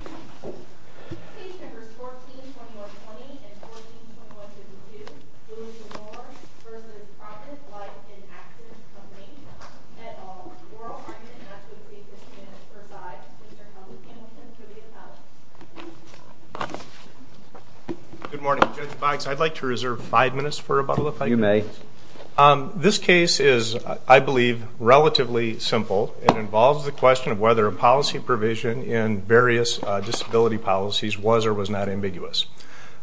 Company, et al., oral argument and act of defense, and it is presided over by Mr. Helms and Mrs. Trivia Pallett. Good morning, Judge Bikes. I'd like to reserve five minutes for a bottle of pipe. You may. This case is, I believe, relatively simple. It involves the question of whether a policy provision in various disability policies was or was not ambiguous.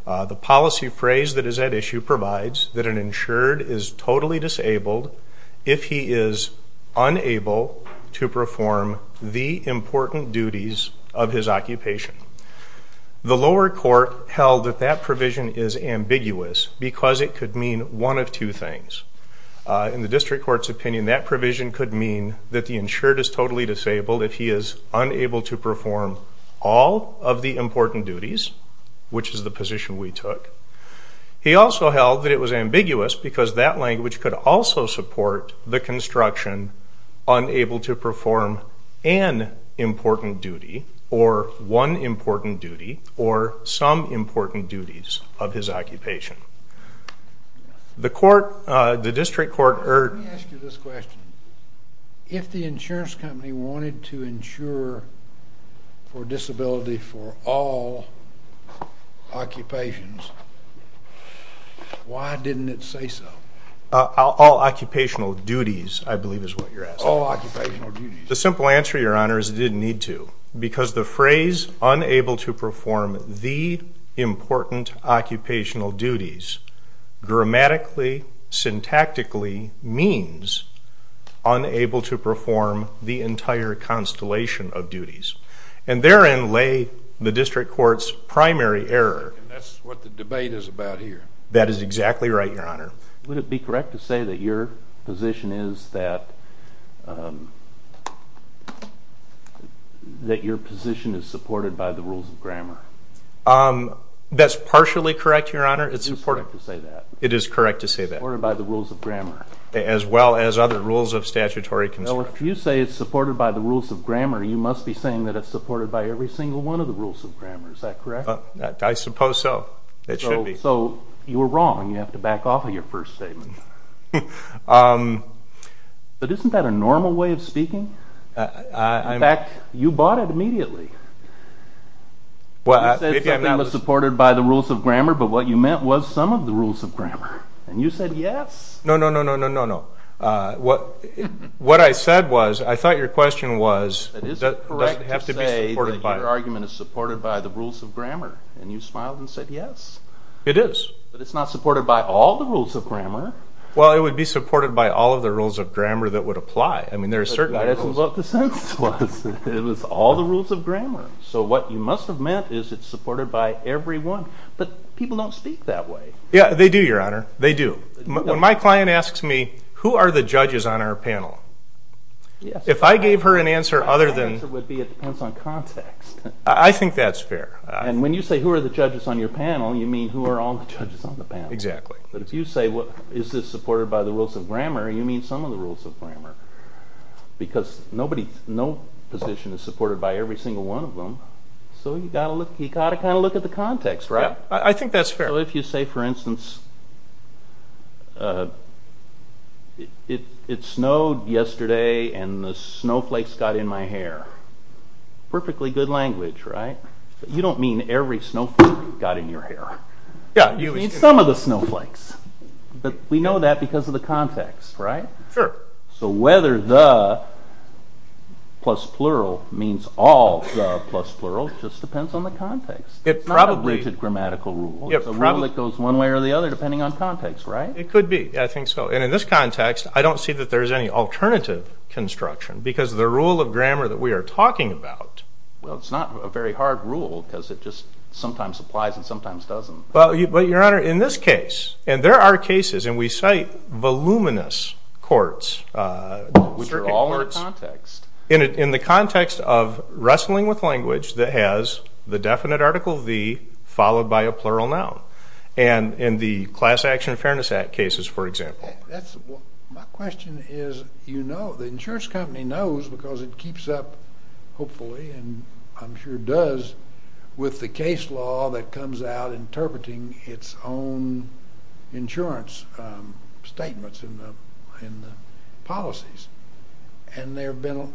The policy phrase that is at issue provides that an insured is totally disabled if he is unable to perform the important duties of his occupation. The lower court held that that provision is ambiguous because it could mean one of two things. In the district court's opinion, that provision could mean that the insured is totally disabled if he is unable to perform all of the important duties, which is the position we took. He also held that it was ambiguous because that language could also support the construction, unable to perform an important duty, or one important duty, or some important duties of his occupation. Let me ask you this question. If the insurance company wanted to insure for disability for all occupations, why didn't it say so? All occupational duties, I believe, is what you're asking. All occupational duties. The simple answer, Your Honor, is it didn't need to because the phrase, unable to perform the important occupational duties, grammatically, syntactically means unable to perform the entire constellation of duties. And therein lay the district court's primary error. And that's what the debate is about here. That is exactly right, Your Honor. Would it be correct to say that your position is that your position is supported by the rules of grammar? That's partially correct, Your Honor. It is correct to say that. Supported by the rules of grammar. As well as other rules of statutory construction. If you say it's supported by the rules of grammar, you must be saying that it's supported by every single one of the rules of grammar. Is that correct? I suppose so. It should be. Okay, so you were wrong. You have to back off of your first statement. But isn't that a normal way of speaking? In fact, you bought it immediately. You said something was supported by the rules of grammar, but what you meant was some of the rules of grammar. And you said yes. No, no, no, no, no, no. What I said was, I thought your question was, does it have to be supported by... It is. But it's not supported by all the rules of grammar. Well, it would be supported by all of the rules of grammar that would apply. But that isn't what the sentence was. It was all the rules of grammar. So what you must have meant is it's supported by every one. But people don't speak that way. Yeah, they do, Your Honor. They do. When my client asks me, who are the judges on our panel? If I gave her an answer other than... Her answer would be, it depends on context. I think that's fair. And when you say, who are the judges on your panel? You mean who are all the judges on the panel. Exactly. But if you say, is this supported by the rules of grammar? You mean some of the rules of grammar. Because no position is supported by every single one of them. So you've got to kind of look at the context, right? I think that's fair. So if you say, for instance, it snowed yesterday and the snowflakes got in my hair. Perfectly good language, right? You don't mean every snowflake got in your hair. You mean some of the snowflakes. But we know that because of the context, right? Sure. So whether the plus plural means all the plus plurals just depends on the context. It's not a rigid grammatical rule. It's a rule that goes one way or the other depending on context, right? It could be. I think so. And in this context, I don't see that there's any alternative construction. Because the rule of grammar that we are talking about... Well, it's not a very hard rule because it just sometimes applies and sometimes doesn't. But, Your Honor, in this case, and there are cases, and we cite voluminous courts. Which are all in the context. In the context of wrestling with language that has the definite article V followed by a plural noun. And in the Class Action Fairness Act cases, for example. My question is, you know, the insurance company knows because it keeps up, hopefully, and I'm sure does, with the case law that comes out interpreting its own insurance statements and policies. And there have been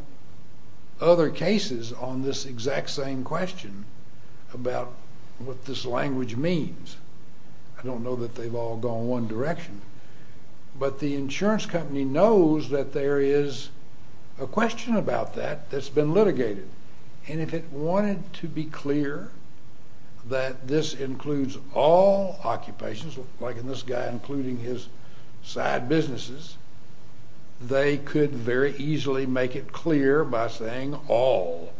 other cases on this exact same question about what this language means. I don't know that they've all gone one direction. But the insurance company knows that there is a question about that that's been litigated. And if it wanted to be clear that this includes all occupations, like in this guy including his side businesses, they could very easily make it clear by saying all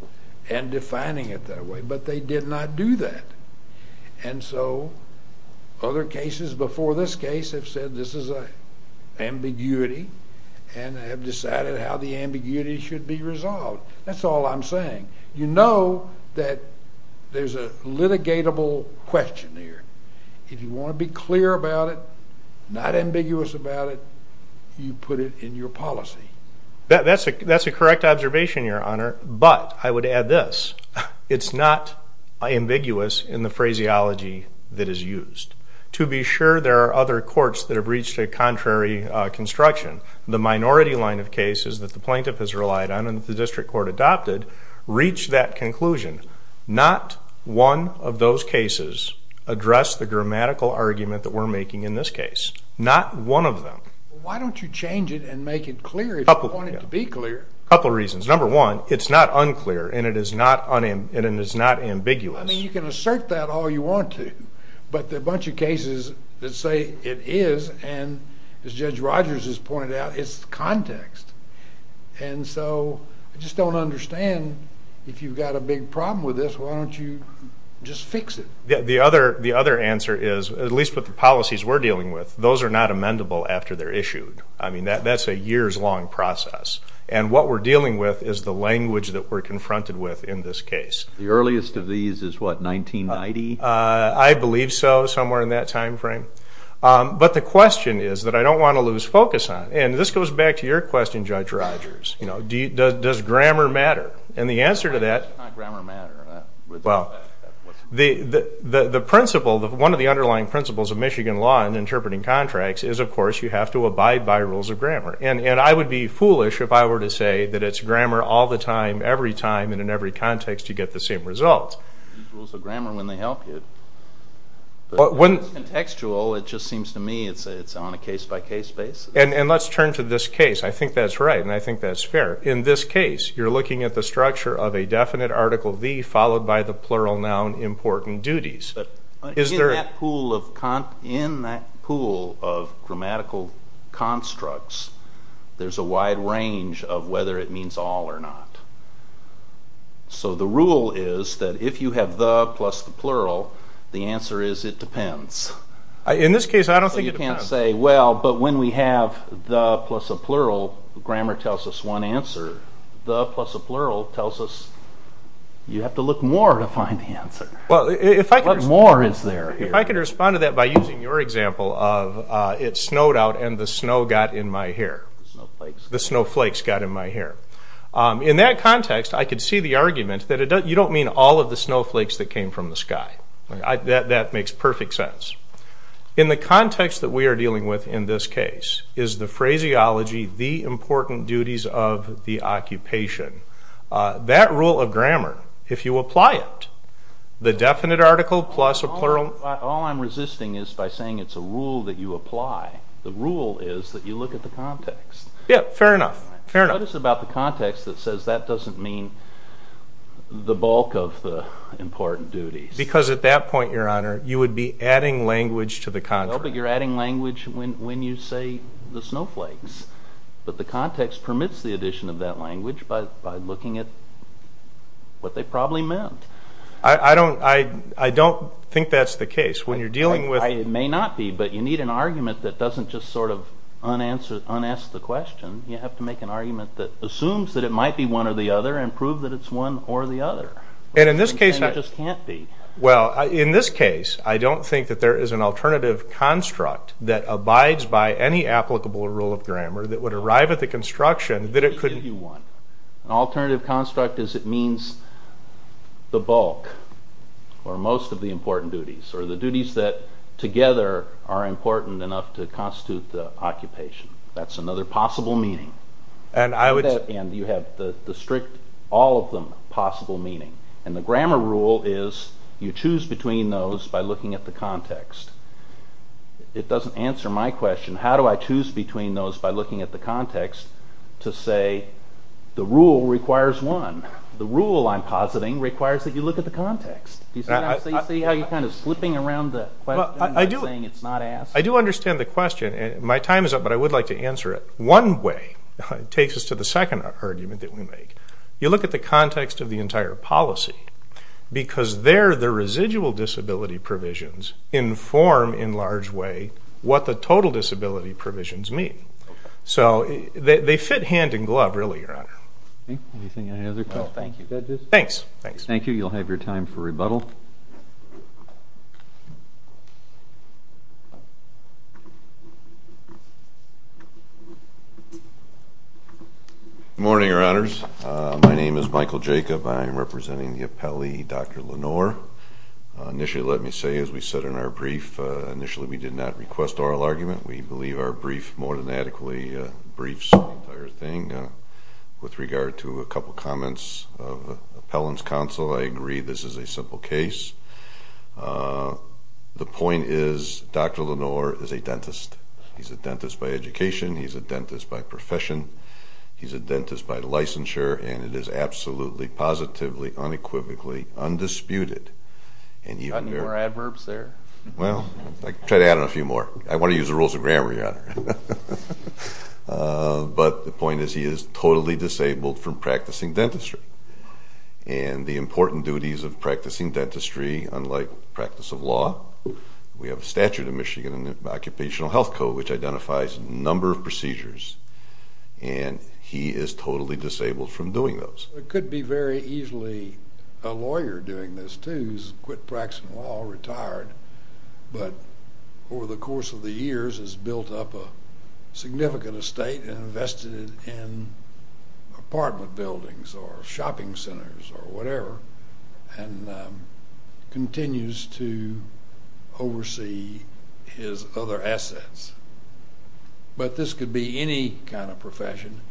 and defining it that way. But they did not do that. And so other cases before this case have said this is an ambiguity and have decided how the ambiguity should be resolved. That's all I'm saying. You know that there's a litigatable question here. If you want to be clear about it, not ambiguous about it, you put it in your policy. That's a correct observation, Your Honor. But I would add this. It's not ambiguous in the phraseology that is used. To be sure, there are other courts that have reached a contrary construction. The minority line of cases that the plaintiff has relied on and that the district court adopted reached that conclusion. Not one of those cases addressed the grammatical argument that we're making in this case. Not one of them. Why don't you change it and make it clear if you want it to be clear? A couple reasons. Number one, it's not unclear and it is not ambiguous. I mean, you can assert that all you want to, but there are a bunch of cases that say it is, and as Judge Rogers has pointed out, it's context. And so I just don't understand if you've got a big problem with this, why don't you just fix it? The other answer is, at least with the policies we're dealing with, those are not amendable after they're issued. I mean, that's a years-long process. And what we're dealing with is the language that we're confronted with in this case. The earliest of these is, what, 1990? I believe so, somewhere in that time frame. But the question is that I don't want to lose focus on it. And this goes back to your question, Judge Rogers. Does grammar matter? And the answer to that is, well, the principle, one of the underlying principles of Michigan law in interpreting contracts is, of course, you have to abide by rules of grammar. And I would be foolish if I were to say that it's grammar all the time, every time, and in every context you get the same results. These rules of grammar, when they help you. When it's contextual, it just seems to me it's on a case-by-case basis. And let's turn to this case. I think that's right, and I think that's fair. In this case, you're looking at the structure of a definite Article V followed by the plural noun important duties. In that pool of grammatical constructs, there's a wide range of whether it means all or not. So the rule is that if you have the plus the plural, the answer is it depends. In this case, I don't think it depends. You can't say, well, but when we have the plus a plural, grammar tells us one answer. What more is there? If I could respond to that by using your example of it snowed out and the snow got in my hair. The snowflakes got in my hair. In that context, I could see the argument that you don't mean all of the snowflakes that came from the sky. That makes perfect sense. In the context that we are dealing with in this case is the phraseology the important duties of the occupation. That rule of grammar, if you apply it, the definite article plus a plural. All I'm resisting is by saying it's a rule that you apply. The rule is that you look at the context. Yeah, fair enough. Notice about the context that says that doesn't mean the bulk of the important duties. Because at that point, Your Honor, you would be adding language to the context. No, but you're adding language when you say the snowflakes. But the context permits the addition of that language by looking at what they probably meant. I don't think that's the case. It may not be, but you need an argument that doesn't just sort of unask the question. You have to make an argument that assumes that it might be one or the other and prove that it's one or the other. In this case, I don't think that there is an alternative construct that abides by any applicable rule of grammar that would arrive at the construction that it could... An alternative construct is it means the bulk or most of the important duties or the duties that together are important enough to constitute the occupation. That's another possible meaning. And you have the strict all of them possible meaning. And the grammar rule is you choose between those by looking at the context. It doesn't answer my question. How do I choose between those by looking at the context to say the rule requires one? The rule I'm positing requires that you look at the context. Do you see how you're kind of slipping around the question and saying it's not asked? I do understand the question. My time is up, but I would like to answer it. One way takes us to the second argument that we make. You look at the context of the entire policy because there the residual disability provisions inform in large way what the total disability provisions mean. So they fit hand in glove, really, Your Honor. Anything in any other case? No, thank you. Thanks. Thank you. You'll have your time for rebuttal. Good morning, Your Honors. My name is Michael Jacob. I am representing the appellee, Dr. Lenore. Initially, let me say, as we said in our brief, initially we did not request oral argument. We believe our brief more than adequately briefs the entire thing. With regard to a couple comments of appellant's counsel, I agree this is a simple case. The point is Dr. Lenore is a dentist. He's a dentist by education. He's a dentist by profession. He's a dentist by licensure, and it is absolutely, positively, unequivocally, undisputed. Got any more adverbs there? Well, I can try to add on a few more. I want to use the rules of grammar, Your Honor. But the point is he is totally disabled from practicing dentistry. And the important duties of practicing dentistry, unlike practice of law, we have a statute in Michigan, an Occupational Health Code, which identifies a number of procedures, and he is totally disabled from doing those. It could be very easily a lawyer doing this, too, who's quit practicing law, retired, but over the course of the years has built up a significant estate and invested in apartment buildings or shopping centers or whatever and continues to oversee his other assets. But this could be any kind of profession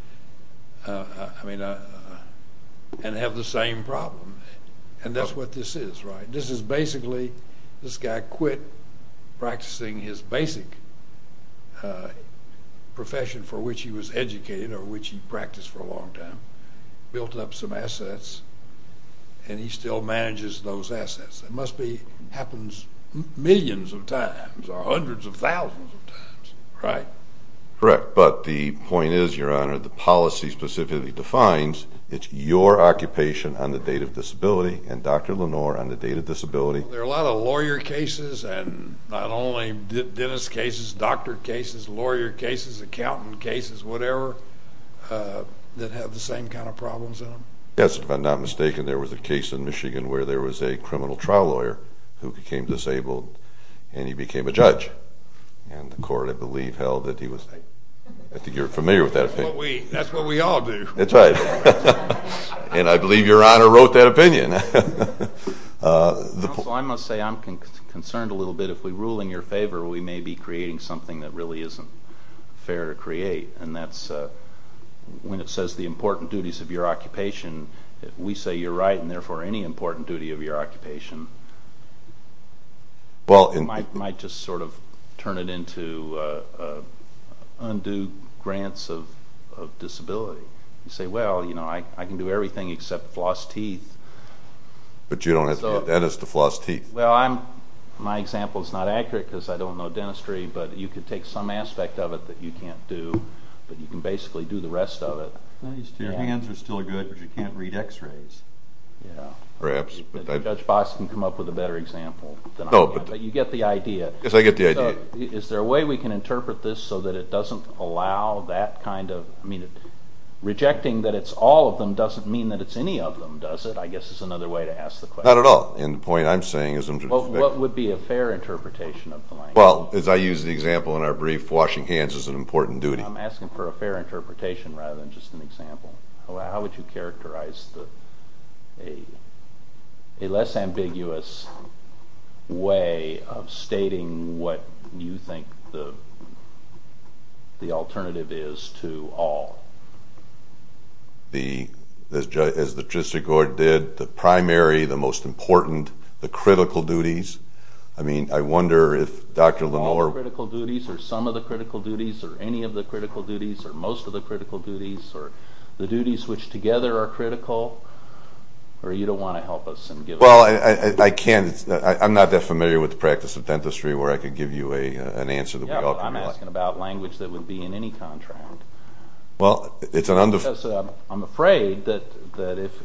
and have the same problem, and that's what this is, right? This is basically this guy quit practicing his basic profession for which he was educated or which he practiced for a long time, built up some assets, and he still manages those assets. It must be happens millions of times or hundreds of thousands of times. Right. Correct. But the point is, Your Honor, the policy specifically defines it's your occupation on the date of disability and Dr. Lenore on the date of disability. There are a lot of lawyer cases and not only dentist cases, doctor cases, lawyer cases, accountant cases, whatever, that have the same kind of problems in them. Yes, if I'm not mistaken, there was a case in Michigan where there was a criminal trial lawyer who became disabled and he became a judge, and the court, I believe, held that he was... I think you're familiar with that opinion. That's what we all do. That's right. And I believe Your Honor wrote that opinion. Counsel, I must say I'm concerned a little bit. If we rule in your favor, we may be creating something that really isn't fair to create, and that's when it says the important duties of your occupation, we say you're right, and therefore any important duty of your occupation, might just sort of turn it into undue grants of disability. You say, well, you know, I can do everything except floss teeth. But you don't have to be a dentist to floss teeth. Well, my example is not accurate because I don't know dentistry, but you could take some aspect of it that you can't do, but you can basically do the rest of it. Your hands are still good, but you can't read x-rays. Perhaps. Judge Fox can come up with a better example. But you get the idea. Yes, I get the idea. Is there a way we can interpret this so that it doesn't allow that kind of... I mean, rejecting that it's all of them doesn't mean that it's any of them, does it? I guess it's another way to ask the question. Not at all, and the point I'm saying is... What would be a fair interpretation of the language? Well, as I use the example in our brief, washing hands is an important duty. I'm asking for a fair interpretation rather than just an example. How would you characterize a less ambiguous way of stating what you think the alternative is to all? As the justice did, the primary, the most important, the critical duties. I mean, I wonder if Dr. Lenore... or most of the critical duties, or the duties which together are critical, or you don't want to help us and give us... Well, I can't... I'm not that familiar with the practice of dentistry where I could give you an answer that we all can relate. Yeah, but I'm asking about language that would be in any contract. Well, it's an under... Because I'm afraid that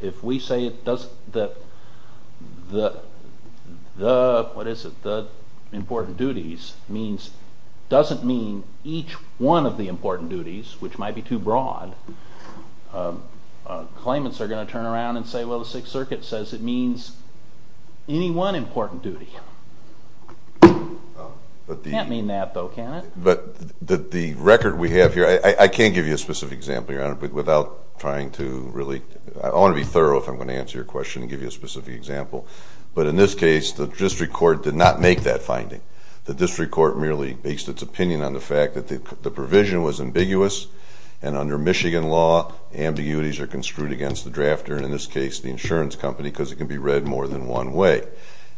if we say it doesn't... the, what is it, the important duties means doesn't mean each one of the important duties, which might be too broad. Claimants are going to turn around and say, well, the Sixth Circuit says it means any one important duty. It can't mean that, though, can it? But the record we have here, I can't give you a specific example, Your Honor, without trying to really... I want to be thorough if I'm going to answer your question and give you a specific example. But in this case, the district court did not make that finding. The district court merely based its opinion on the fact that the provision was ambiguous and under Michigan law, ambiguities are construed against the drafter, and in this case, the insurance company, because it can be read more than one way.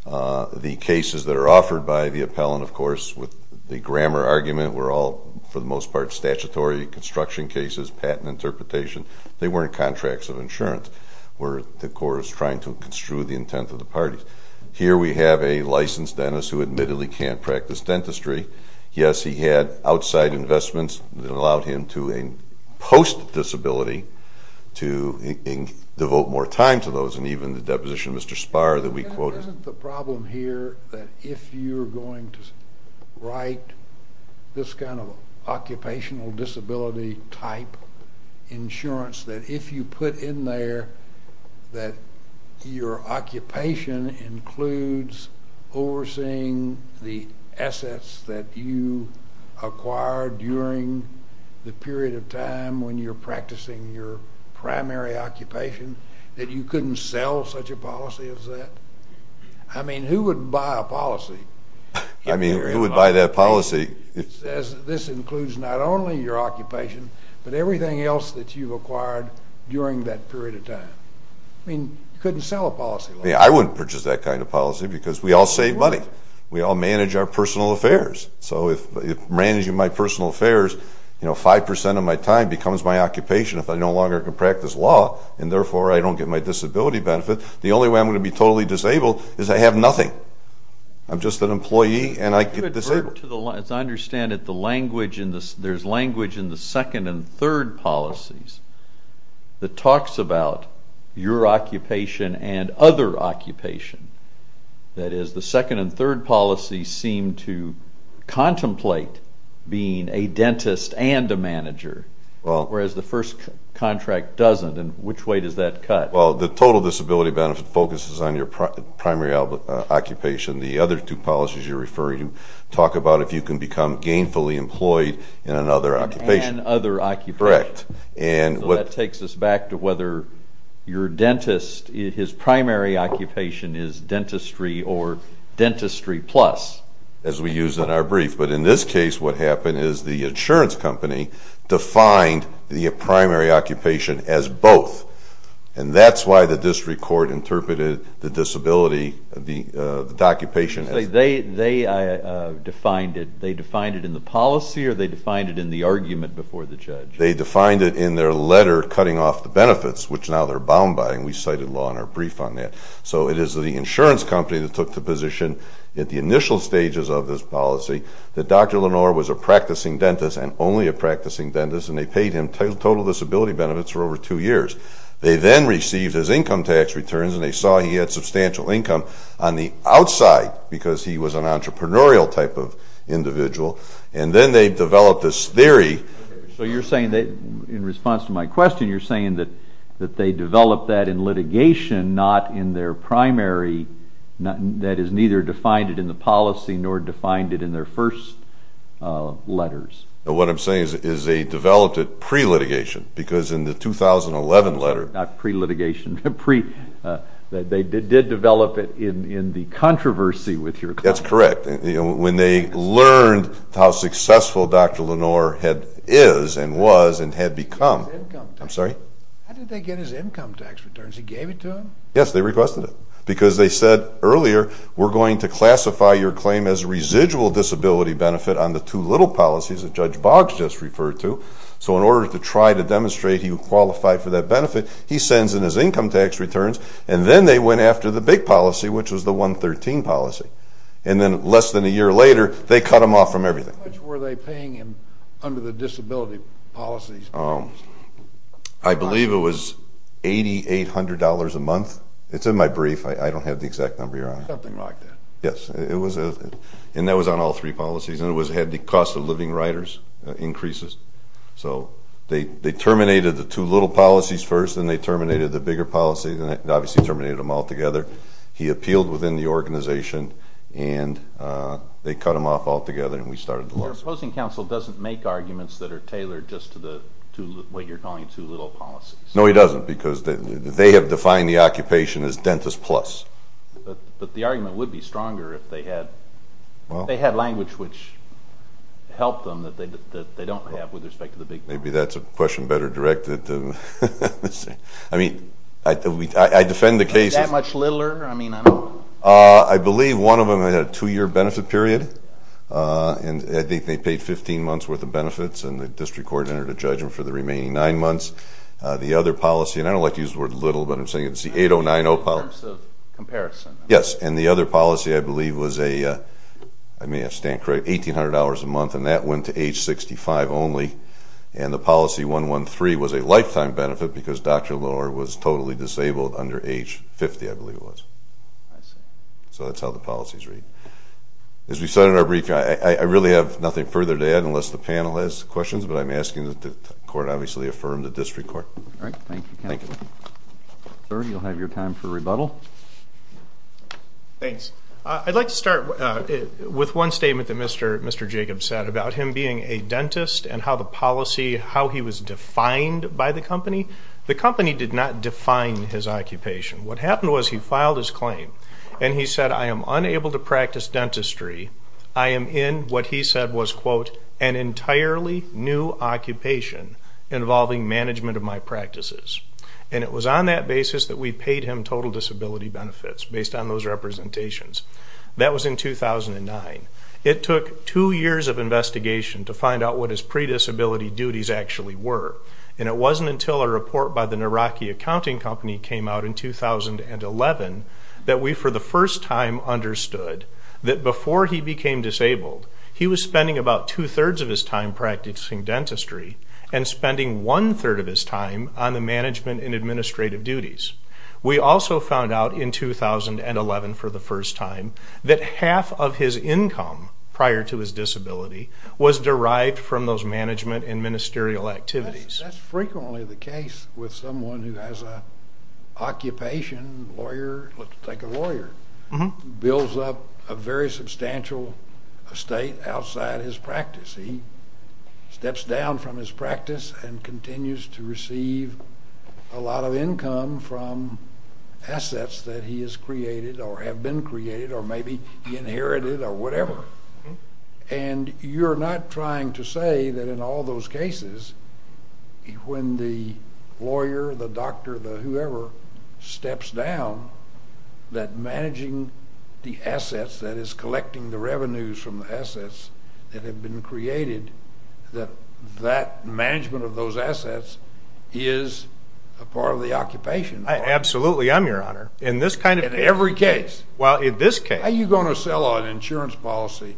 The cases that are offered by the appellant, of course, with the grammar argument, were all, for the most part, statutory construction cases, patent interpretation. They weren't contracts of insurance where the court was trying to construe the intent of the parties. Here we have a licensed dentist who admittedly can't practice dentistry. Yes, he had outside investments that allowed him to impose disability to devote more time to those, and even the deposition of Mr. Spar that we quoted. Isn't the problem here that if you're going to write this kind of occupational disability type insurance, that if you put in there that your occupation includes overseeing the assets that you acquired during the period of time when you're practicing your primary occupation, that you couldn't sell such a policy as that? I mean, who would buy a policy? I mean, who would buy that policy? It says this includes not only your occupation, but everything else that you've acquired during that period of time. I mean, you couldn't sell a policy like that. I wouldn't purchase that kind of policy because we all save money. We all manage our personal affairs. So if managing my personal affairs, you know, 5% of my time becomes my occupation if I no longer can practice law, and therefore I don't get my disability benefit, the only way I'm going to be totally disabled is I have nothing. I'm just an employee, and I get disabled. As I understand it, there's language in the second and third policies that talks about your occupation and other occupation. That is, the second and third policies seem to contemplate being a dentist and a manager, whereas the first contract doesn't, and which way does that cut? Well, the total disability benefit focuses on your primary occupation. The other two policies you're referring to talk about if you can become gainfully employed in another occupation. And other occupation. Correct. So that takes us back to whether your dentist, his primary occupation is dentistry or dentistry plus, as we use in our brief. But in this case, what happened is the insurance company defined the primary occupation as both, and that's why the district court interpreted the disability, the occupation as both. They defined it in the policy, or they defined it in the argument before the judge? They defined it in their letter cutting off the benefits, which now they're bound by, and we cited law in our brief on that. So it is the insurance company that took the position at the initial stages of this policy that Dr. Lenore was a practicing dentist and only a practicing dentist, and they paid him total disability benefits for over two years. They then received his income tax returns, and they saw he had substantial income on the outside because he was an entrepreneurial type of individual. And then they developed this theory. So you're saying that, in response to my question, you're saying that they developed that in litigation, not in their primary, that is, neither defined it in the policy nor defined it in their first letters. What I'm saying is they developed it pre-litigation, because in the 2011 letter. Not pre-litigation. They did develop it in the controversy with your client. That's correct. When they learned how successful Dr. Lenore is and was and had become. I'm sorry? How did they get his income tax returns? He gave it to them? Yes, they requested it, because they said earlier, we're going to classify your claim as residual disability benefit on the two little policies that Judge Boggs just referred to. So in order to try to demonstrate he would qualify for that benefit, he sends in his income tax returns, and then they went after the big policy, which was the 113 policy. And then less than a year later, they cut him off from everything. How much were they paying him under the disability policies? I believe it was $8,800 a month. It's in my brief. I don't have the exact number, Your Honor. Something like that. Yes. And that was on all three policies. And it had the cost of living writers increases. So they terminated the two little policies first, then they terminated the bigger policies, and obviously terminated them all together. He appealed within the organization, and they cut him off altogether, and we started the lawsuit. Your opposing counsel doesn't make arguments that are tailored just to what you're calling two little policies. No, he doesn't, because they have defined the occupation as dentist plus. But the argument would be stronger if they had language which helped them that they don't have with respect to the big policy. Maybe that's a question better directed. I mean, I defend the case. Was that much littler? I mean, I don't know. I believe one of them had a two-year benefit period, and I think they paid 15 months' worth of benefits, and the district court entered a judgment for the remaining nine months. The other policy, and I don't like to use the word little, but I'm saying it's the 8090 policy. In terms of comparison. Yes. And the other policy, I believe, was a, I may have stamped correct, 1,800 hours a month, and that went to age 65 only. And the policy 113 was a lifetime benefit because Dr. Lohr was totally disabled under age 50, I believe it was. I see. So that's how the policies read. As we said in our brief, I really have nothing further to add unless the panel has questions, but I'm asking that the court obviously affirm the district court. All right. Thank you. Thank you. Sir, you'll have your time for rebuttal. Thanks. I'd like to start with one statement that Mr. Jacobs said about him being a dentist and how the policy, how he was defined by the company. The company did not define his occupation. What happened was he filed his claim, and he said, I am unable to practice dentistry. I am in what he said was, quote, an entirely new occupation involving management of my practices. And it was on that basis that we paid him total disability benefits based on those representations. That was in 2009. It took two years of investigation to find out what his pre-disability duties actually were, and it wasn't until a report by the Naraki Accounting Company came out in 2011 that we for the first time understood that before he became disabled, he was spending about two-thirds of his time practicing dentistry and spending one-third of his time on the management and administrative duties. We also found out in 2011 for the first time that half of his income prior to his disability was derived from those management and ministerial activities. That's frequently the case with someone who has an occupation, a lawyer, let's take a lawyer, builds up a very substantial estate outside his practice. He steps down from his practice and continues to receive a lot of income from assets that he has created or have been created or maybe he inherited or whatever. And you're not trying to say that in all those cases when the lawyer, the doctor, the whoever steps down that managing the assets, that is collecting the revenues from the assets that have been created, that that management of those assets is a part of the occupation. Absolutely, I'm your honor. In this kind of case. In every case. Well, in this case. How are you going to sell an insurance policy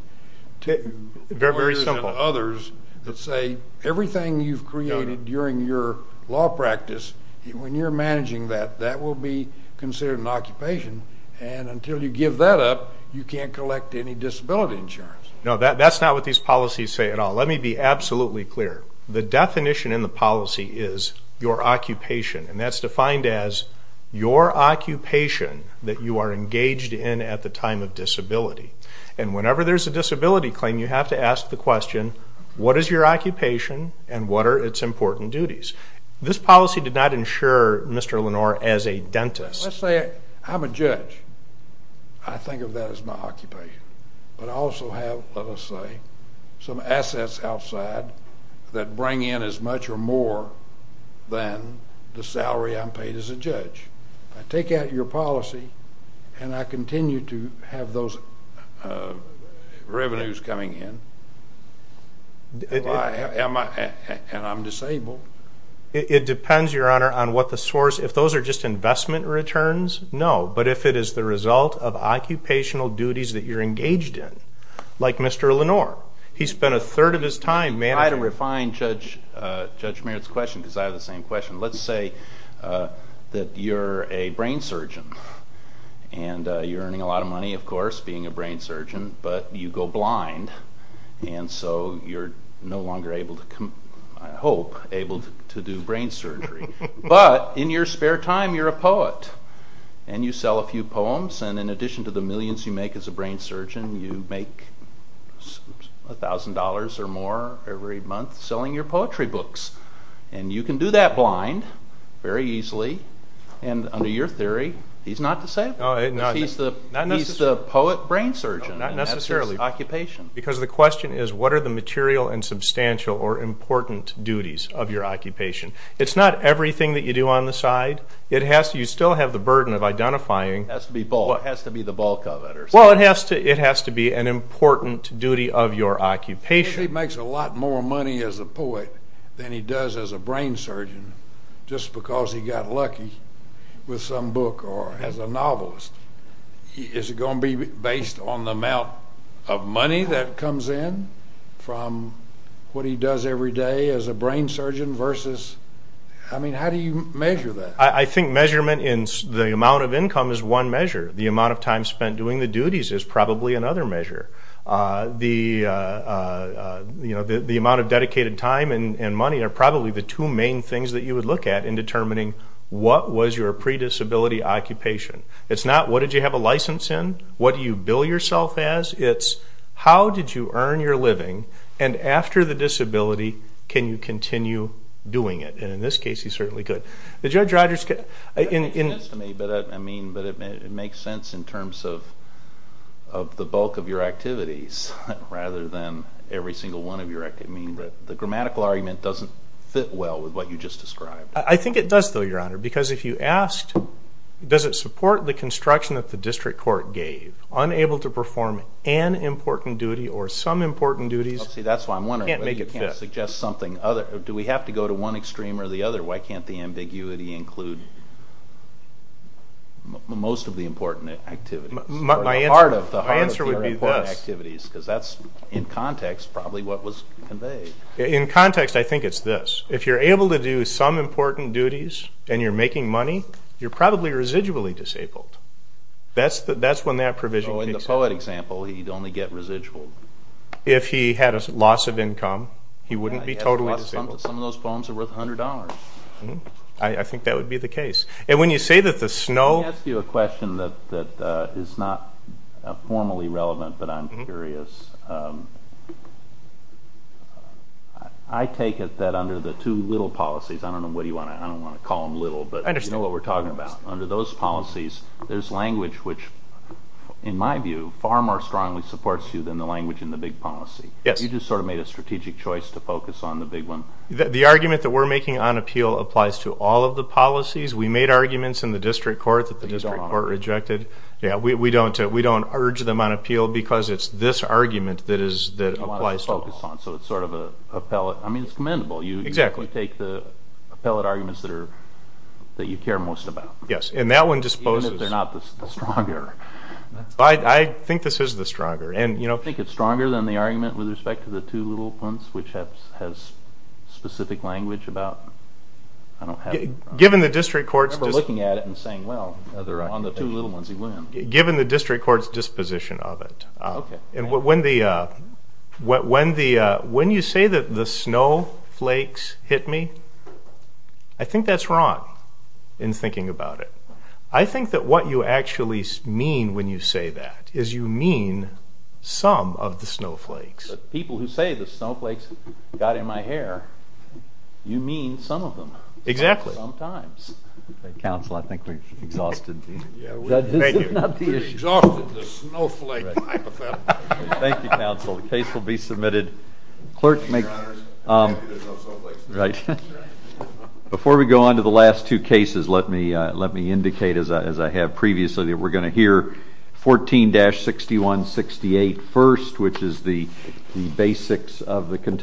to lawyers and others that say everything you've created during your law practice, when you're managing that, that will be considered an occupation and until you give that up, you can't collect any disability insurance. No, that's not what these policies say at all. Let me be absolutely clear. The definition in the policy is your occupation, and that's defined as your occupation that you are engaged in at the time of disability. And whenever there's a disability claim, you have to ask the question, what is your occupation and what are its important duties? This policy did not insure Mr. Lenore as a dentist. Let's say I'm a judge. I think of that as my occupation. But I also have, let us say, some assets outside that bring in as much or more than the salary I'm paid as a judge. I take out your policy and I continue to have those revenues coming in, and I'm disabled. It depends, your honor, on what the source. If those are just investment returns, no. But if it is the result of occupational duties that you're engaged in, like Mr. Lenore. He spent a third of his time managing. I had to refine Judge Merritt's question because I have the same question. Let's say that you're a brain surgeon and you're earning a lot of money, of course, being a brain surgeon, but you go blind and so you're no longer able to, I hope, able to do brain surgery. But in your spare time, you're a poet and you sell a few poems. In addition to the millions you make as a brain surgeon, you make $1,000 or more every month selling your poetry books. You can do that blind very easily. Under your theory, he's not disabled. He's the poet brain surgeon. That's his occupation. The question is, what are the material and substantial or important duties of your occupation? It's not everything that you do on the side. You still have the burden of identifying what has to be the bulk of it. It has to be an important duty of your occupation. He makes a lot more money as a poet than he does as a brain surgeon just because he got lucky with some book or as a novelist. Is it going to be based on the amount of money that comes in from what he does every day as a brain surgeon versus, I mean, how do you measure that? I think measurement in the amount of income is one measure. The amount of time spent doing the duties is probably another measure. The amount of dedicated time and money are probably the two main things that you would look at in determining what was your predisability occupation. It's not, what did you have a license in? What do you bill yourself as? It's, how did you earn your living, and after the disability, can you continue doing it? And in this case, he certainly could. Judge Rodgers could. It makes sense to me, but it makes sense in terms of the bulk of your activities rather than every single one of your activities. The grammatical argument doesn't fit well with what you just described. I think it does, though, Your Honor, because if you asked, does it support the construction that the district court gave? Unable to perform an important duty or some important duties can't make it fit. See, that's why I'm wondering why you can't suggest something other. Do we have to go to one extreme or the other? Why can't the ambiguity include most of the important activities? My answer would be this. Or part of the important activities, because that's, in context, probably what was conveyed. In context, I think it's this. If you're able to do some important duties and you're making money, you're probably residually disabled. That's when that provision kicks in. In the poet example, he'd only get residual. If he had a loss of income, he wouldn't be totally disabled. Some of those poems are worth $100. I think that would be the case. And when you say that the snow... Let me ask you a question that is not formally relevant, but I'm curious. I take it that under the two little policies... I don't know what you want to... I don't want to call them little, but you know what we're talking about. Under those policies, there's language which, in my view, far more strongly supports you than the language in the big policy. You just sort of made a strategic choice to focus on the big one. The argument that we're making on appeal applies to all of the policies. We made arguments in the district court that the district court rejected. We don't urge them on appeal because it's this argument. You want to focus on, so it's sort of a pellet. I mean, it's commendable. You take the pellet arguments that you care most about. Yes, and that one disposes... Even if they're not the stronger. I think this is the stronger. You think it's stronger than the argument with respect to the two little ones, which has specific language about... Given the district court's... I remember looking at it and saying, well, on the two little ones, he wins. Given the district court's disposition of it. When you say that the snowflakes hit me, I think that's wrong in thinking about it. I think that what you actually mean when you say that is you mean some of the snowflakes. The people who say the snowflakes got in my hair, you mean some of them. Exactly. Sometimes. Counsel, I think we've exhausted the issue. Thank you, counsel. The case will be submitted. Before we go on to the last two cases, let me indicate, as I have previously, that we're going to hear 14-6168 first, which is the basics of the contention.